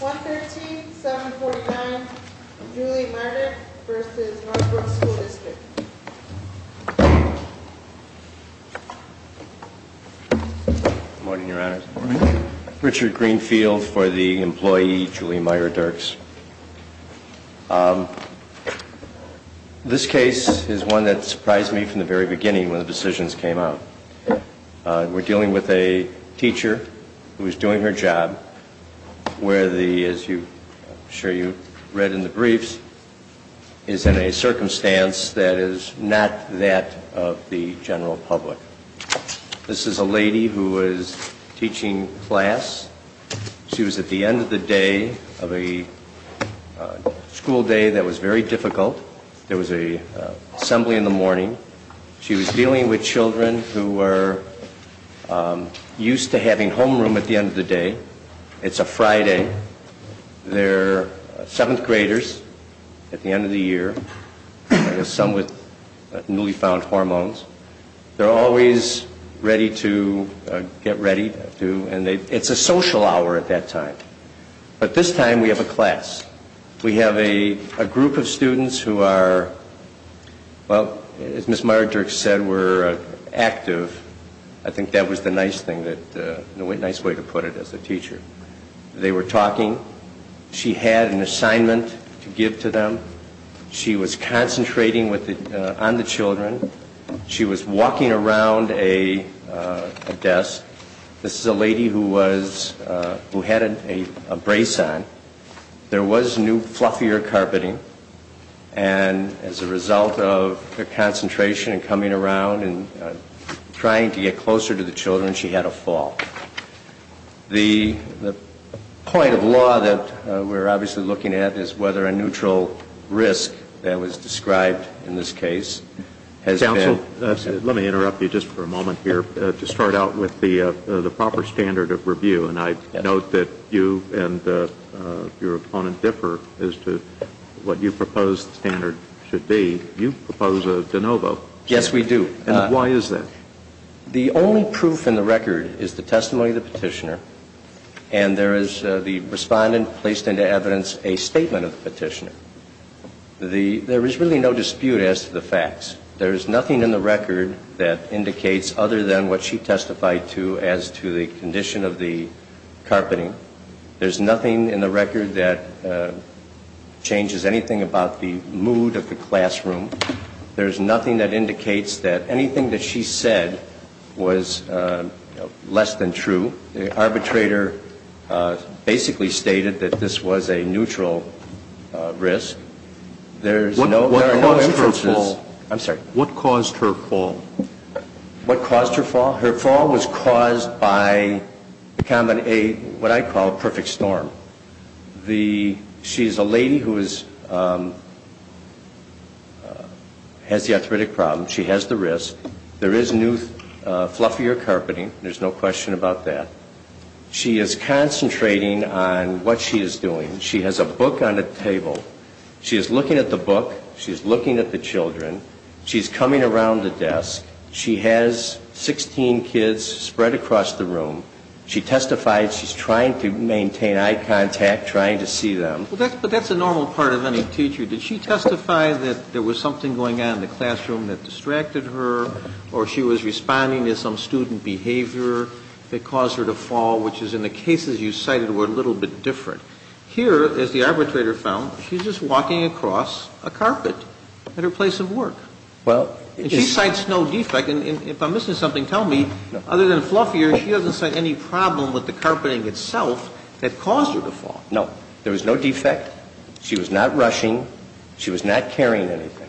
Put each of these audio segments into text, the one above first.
113-749 Julie Meierdirks v. Northbrook School District Richard Greenfield for the employee, Julie Meierdirks. This case is one that surprised me from the very beginning when the decisions came out. We're dealing with a teacher who is doing her job where the, as I'm sure you read in the briefs, is in a circumstance that is not that of the general public. This is a lady who is teaching class. She was at the end of the day of a school day that was very difficult. There was an assembly in the morning. She was dealing with children who were used to having homeroom at the end of the day. It's a Friday. They're 7th graders at the end of the year. Some with newly found hormones. They're always ready to get ready. It's a social hour at that time. But this time we have a class. We have a group of students who are, well, as Ms. Meierdirks said, were active. I think that was the nice way to put it as a teacher. They were talking. She had an assignment to give to them. She was concentrating on the children. She was walking around a desk. This is a lady who had a brace on. There was new fluffier carpeting, and as a result of her concentration and coming around and trying to get closer to the children, she had a fall. The point of law that we're obviously looking at is whether a neutral risk that was described in this case has been... Counsel, let me interrupt you just for a moment here to start out with the proper standard of review. And I note that you and your opponent differ as to what you propose the standard should be. You propose a de novo. Yes, we do. And why is that? The only proof in the record is the testimony of the petitioner, and there is the respondent placed into evidence a statement of the petitioner. There is really no dispute as to the facts. There is nothing in the record that indicates other than what she testified to as to the condition of the carpeting. There's nothing in the record that changes anything about the mood of the classroom. There's nothing that indicates that anything that she said was less than true. The arbitrator basically stated that this was a neutral risk. There are no inferences. What caused her fall? What caused her fall? Her fall was caused by what I call a perfect storm. She's a lady who has the arthritic problem. She has the risk. There is new fluffier carpeting. There's no question about that. She is concentrating on what she is doing. She has a book on the table. She is looking at the book. She is looking at the children. She's coming around the desk. She has 16 kids spread across the room. She testified she's trying to maintain eye contact, trying to see them. But that's a normal part of any teacher. Did she testify that there was something going on in the classroom that distracted her or she was responding to some student behavior that caused her to fall, which is in the cases you cited were a little bit different. Here, as the arbitrator found, she's just walking across a carpet at her place of work. And she cites no defect. If I'm missing something, tell me. Other than fluffier, she doesn't cite any problem with the carpeting itself that caused her to fall. No. There was no defect. She was not rushing. She was not carrying anything.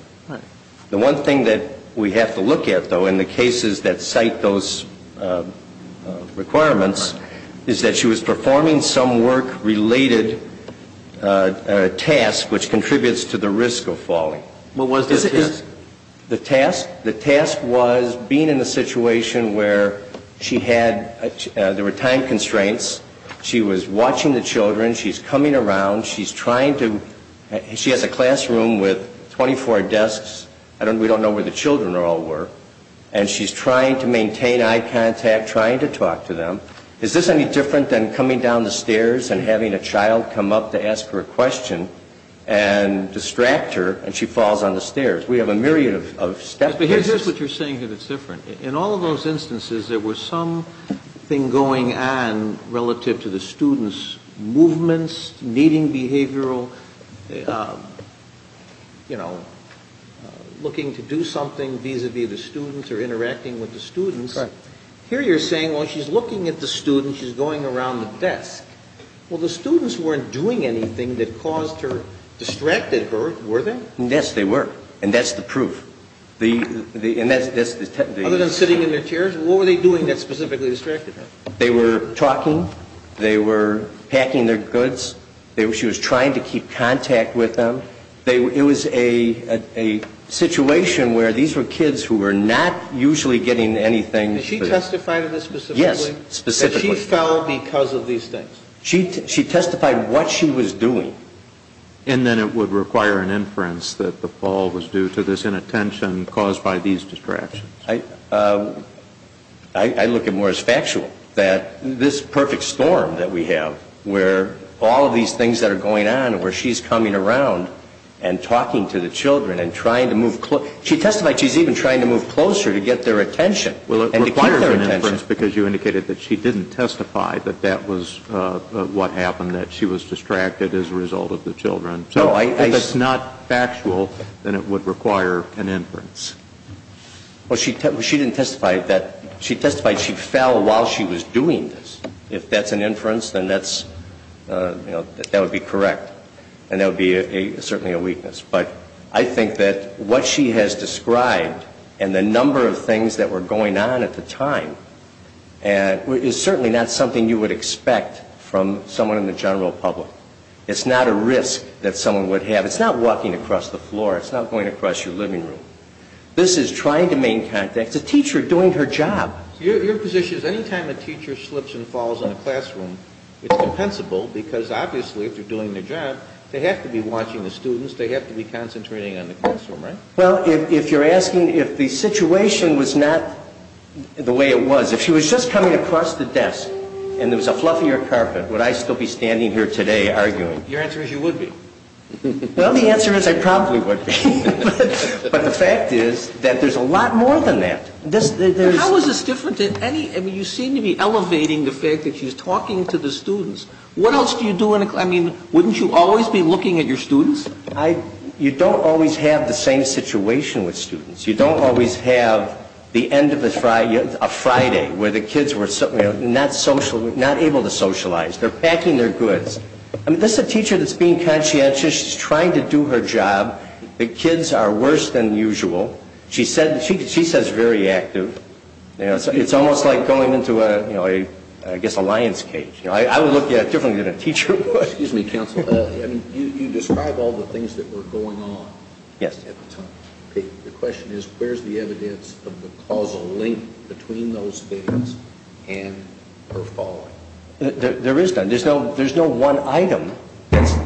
The one thing that we have to look at, though, in the cases that cite those requirements is that she was performing some work-related task which contributes to the risk of falling. What was the task? The task was being in a situation where there were time constraints. She was watching the children. She's coming around. She has a classroom with 24 desks. We don't know where the children all were. And she's trying to maintain eye contact, trying to talk to them. Is this any different than coming down the stairs and having a child come up to ask her a question and distract her and she falls on the stairs? We have a myriad of step cases. But here's what you're saying here that's different. In all of those instances, there was something going on relative to the students' movements, needing behavioral, you know, looking to do something vis-à-vis the students or interacting with the students. Right. Here you're saying, well, she's looking at the students. She's going around the desk. Well, the students weren't doing anything that caused her, distracted her, were they? Yes, they were. And that's the proof. Other than sitting in their chairs, what were they doing that specifically distracted her? They were talking. They were packing their goods. She was trying to keep contact with them. It was a situation where these were kids who were not usually getting anything. Did she testify to this specifically? Yes, specifically. That she fell because of these things? She testified what she was doing. And then it would require an inference that the fall was due to this inattention caused by these distractions. I look at it more as factual, that this perfect storm that we have where all of these things that are going on, where she's coming around and talking to the children and trying to move close. She testified she's even trying to move closer to get their attention. Well, it requires an inference because you indicated that she didn't testify that that was what happened, that she was distracted as a result of the children. If it's not factual, then it would require an inference. Well, she didn't testify that. She testified she fell while she was doing this. If that's an inference, then that would be correct, and that would be certainly a weakness. But I think that what she has described and the number of things that were going on at the time is certainly not something you would expect from someone in the general public. It's not a risk that someone would have. It's not walking across the floor. It's not going across your living room. This is trying to make contact. It's a teacher doing her job. Your position is any time a teacher slips and falls in a classroom, it's compensable, because obviously if they're doing their job, they have to be watching the students. They have to be concentrating on the classroom, right? Well, if you're asking if the situation was not the way it was, if she was just coming across the desk and there was a fluffier carpet, would I still be standing here today arguing? Your answer is you would be. Well, the answer is I probably would be. But the fact is that there's a lot more than that. How is this different than any? I mean, you seem to be elevating the fact that she's talking to the students. What else do you do in a classroom? I mean, wouldn't you always be looking at your students? You don't always have the same situation with students. You don't always have the end of a Friday where the kids were not able to socialize. They're packing their goods. I mean, this is a teacher that's being conscientious. She's trying to do her job. The kids are worse than usual. She says very active. It's almost like going into, I guess, a lion's cage. I would look at it differently than a teacher would. Excuse me, counsel. You describe all the things that were going on at the time. The question is where's the evidence of the causal link between those things and her falling? There is none. There's no one item. It's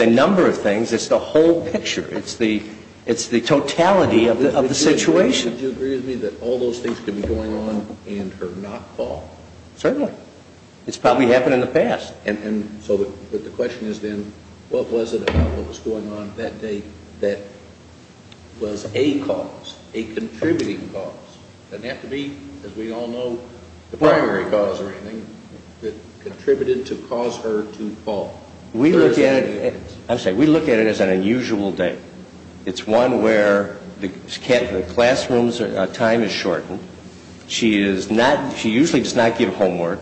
a number of things. It's the whole picture. It's the totality of the situation. Would you agree with me that all those things could be going on in her not falling? Certainly. It's probably happened in the past. But the question is then, what was it about what was going on that day that was a cause, a contributing cause? It doesn't have to be, as we all know, the primary cause or anything that contributed to cause her to fall. We look at it as an unusual day. It's one where the classroom's time is shortened. She usually does not give homework.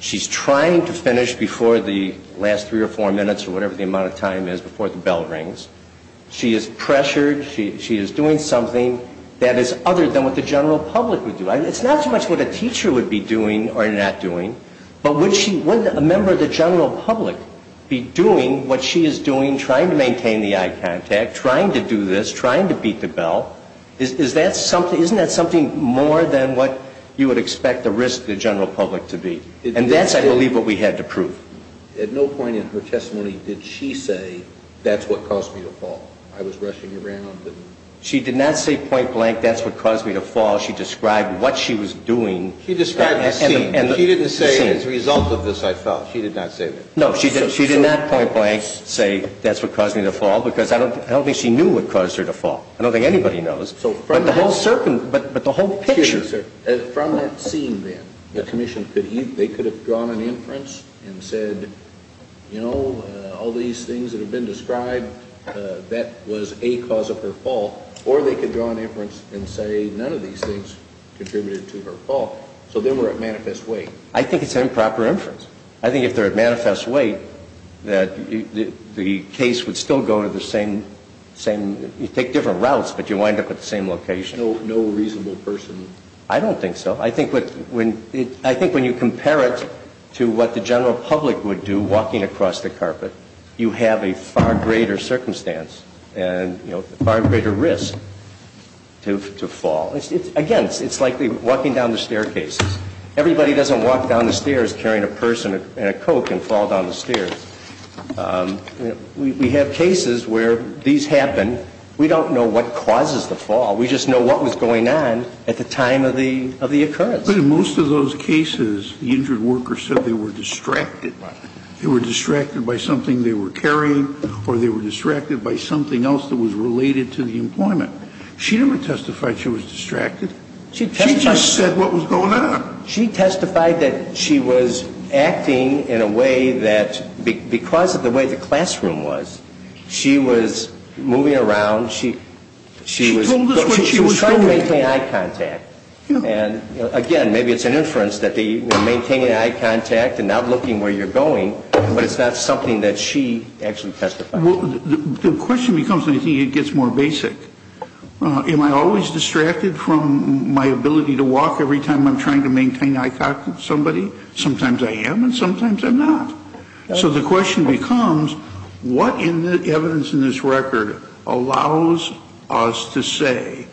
She's trying to finish before the last three or four minutes or whatever the amount of time is before the bell rings. She is pressured. She is doing something that is other than what the general public would do. It's not so much what a teacher would be doing or not doing, but would a member of the general public be doing what she is doing, trying to maintain the eye contact, trying to do this, trying to beat the bell? Isn't that something more than what you would expect the risk to the general public to be? And that's, I believe, what we had to prove. At no point in her testimony did she say, that's what caused me to fall. I was rushing around. She did not say point blank, that's what caused me to fall. She described what she was doing. She described the scene. She didn't say, as a result of this I fell. She did not say that. No, she did not point blank say, that's what caused me to fall, because I don't think she knew what caused her to fall. I don't think anybody knows. But the whole picture. Excuse me, sir. From that scene then, the commission, they could have drawn an inference and said, you know, all these things that have been described, that was a cause of her fall, or they could draw an inference and say none of these things contributed to her fall. So then we're at manifest weight. I think it's an improper inference. I think if they're at manifest weight, that the case would still go to the same, you take different routes, but you wind up at the same location. No reasonable person. I don't think so. I think when you compare it to what the general public would do walking across the carpet, you have a far greater circumstance and, you know, far greater risk to fall. Again, it's like walking down the staircases. Everybody doesn't walk down the stairs carrying a purse and a Coke and fall down the stairs. We have cases where these happen. We don't know what causes the fall. We just know what was going on at the time of the occurrence. But in most of those cases, the injured worker said they were distracted. They were distracted by something they were carrying or they were distracted by something else that was related to the employment. She never testified she was distracted. She testified. She never said what was going on. She testified that she was acting in a way that because of the way the classroom was, she was moving around. She was trying to maintain eye contact. And, again, maybe it's an inference that maintaining eye contact and not looking where you're going, but it's not something that she actually testified. The question becomes, I think, it gets more basic. Am I always distracted from my ability to walk every time I'm trying to maintain eye contact with somebody? Sometimes I am and sometimes I'm not. So the question becomes, what evidence in this record allows us to say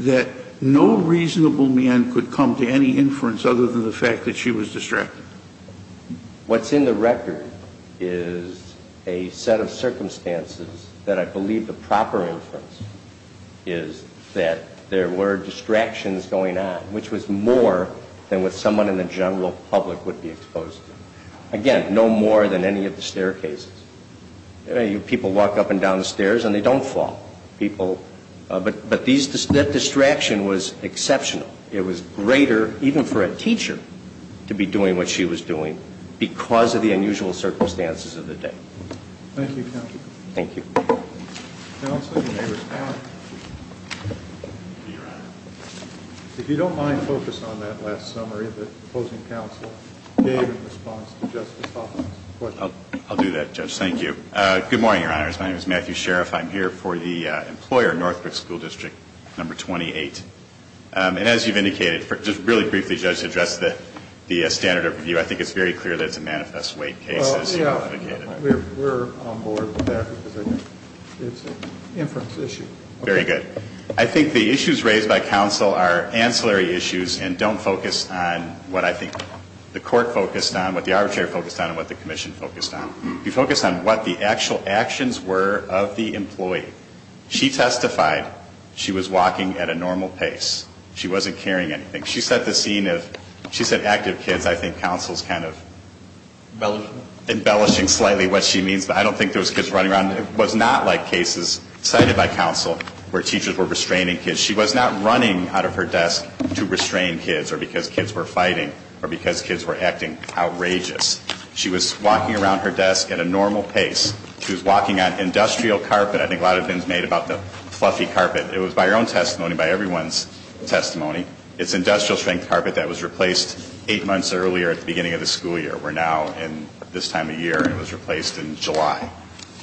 that no reasonable man could come to any inference other than the fact that she was distracted? What's in the record is a set of circumstances that I believe the proper inference is that there were distractions going on, which was more than what someone in the general public would be exposed to. Again, no more than any of the staircases. People walk up and down the stairs and they don't fall. But that distraction was exceptional. It was greater, even for a teacher, to be doing what she was doing because of the unusual circumstances of the day. Thank you, Counsel. Thank you. Counsel, you may respond. If you don't mind, focus on that last summary that opposing counsel gave in response to Justice Hoffman's question. I'll do that, Judge. Thank you. Good morning, Your Honors. My name is Matthew Sheriff. I'm here for the employer, Northbrook School District Number 28. And as you've indicated, just really briefly, Judge, to address the standard of review, I think it's very clear that it's a manifest weight case as you've indicated. We're on board with that because it's an inference issue. Very good. I think the issues raised by counsel are ancillary issues and don't focus on what I think the court focused on, what the arbitrator focused on, and what the commission focused on. You focus on what the actual actions were of the employee. She testified she was walking at a normal pace. She wasn't carrying anything. She set the scene of, she said active kids. I think counsel's kind of embellishing slightly what she means, but I don't think there was kids running around. It was not like cases cited by counsel where teachers were restraining kids. She was not running out of her desk to restrain kids or because kids were fighting or because kids were acting outrageous. She was walking around her desk at a normal pace. She was walking on industrial carpet. I think a lot of things made about the fluffy carpet. It was by her own testimony, by everyone's testimony. It's industrial-strength carpet that was replaced eight months earlier at the beginning of the school year. We're now in this time of year and it was replaced in July.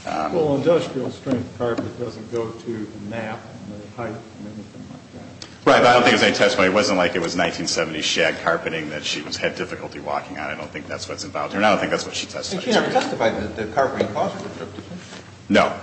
Well, industrial-strength carpet doesn't go to the map and the height and anything like that. Right, but I don't think it was any testimony. It wasn't like it was 1970s shag carpeting that she had difficulty walking on. I don't think that's what's involved here, and I don't think that's what she testified to. And she never testified that the carpeting caused her to trip, did she? No.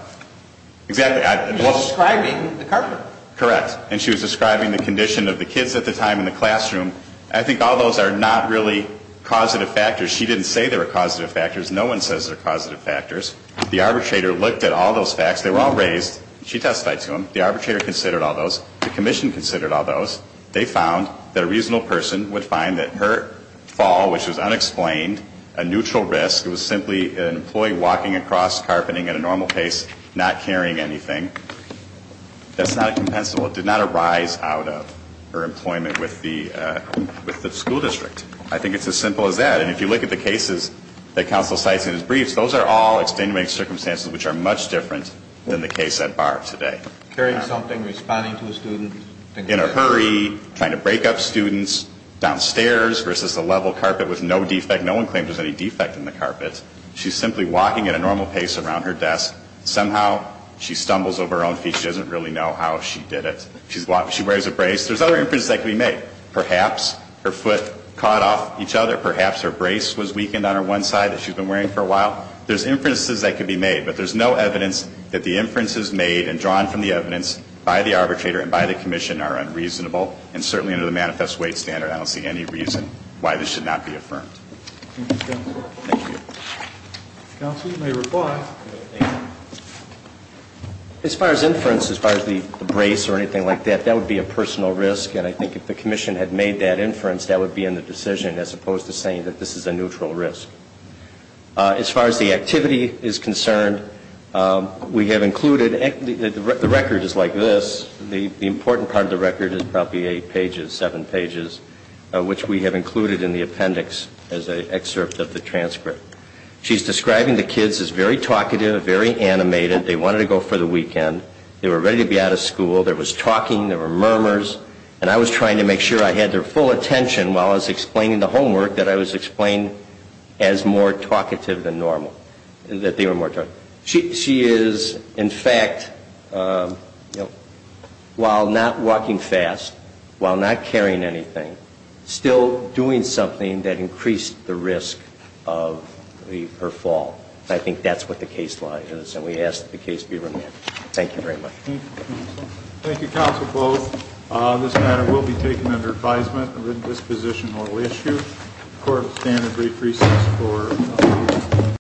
Exactly. She was describing the carpet. Correct. And she was describing the condition of the kids at the time in the classroom. I think all those are not really causative factors. She didn't say they were causative factors. No one says they're causative factors. The arbitrator looked at all those facts. They were all raised. She testified to them. The arbitrator considered all those. The commission considered all those. They found that a reasonable person would find that her fall, which was unexplained, a neutral risk, it was simply an employee walking across carpeting at a normal pace, not carrying anything, that's not compensable. It did not arise out of her employment with the school district. I think it's as simple as that. And if you look at the cases that counsel cites in his briefs, those are all extenuating circumstances, which are much different than the case at bar today. Carrying something, responding to a student. In a hurry, trying to break up students downstairs versus a level carpet with no defect. She's simply walking at a normal pace around her desk. Somehow she stumbles over her own feet. She doesn't really know how she did it. She wears a brace. There's other inferences that could be made. Perhaps her foot caught off each other. Perhaps her brace was weakened on her one side that she's been wearing for a while. There's inferences that could be made. But there's no evidence that the inferences made and drawn from the evidence by the arbitrator and by the commission are unreasonable. And certainly under the manifest weight standard, I don't see any reason why this should not be affirmed. Thank you, counsel. Thank you. Counsel, you may reply. Thank you. As far as inference, as far as the brace or anything like that, that would be a personal risk. And I think if the commission had made that inference, that would be in the decision, as opposed to saying that this is a neutral risk. As far as the activity is concerned, we have included the record is like this. The important part of the record is probably eight pages, seven pages, which we have included in the appendix as an excerpt of the transcript. She's describing the kids as very talkative, very animated. They wanted to go for the weekend. They were ready to be out of school. There was talking. There were murmurs. And I was trying to make sure I had their full attention while I was explaining the homework that I was explaining as more talkative than normal, that they were more talkative. She is, in fact, while not walking fast, while not carrying anything, still doing something that increased the risk of her fall. I think that's what the case law is, and we ask that the case be remanded. Thank you very much. Thank you, counsel. Thank you, counsel, both. This matter will be taken under advisement of this position or issue. The court will stand in brief recess for a few minutes.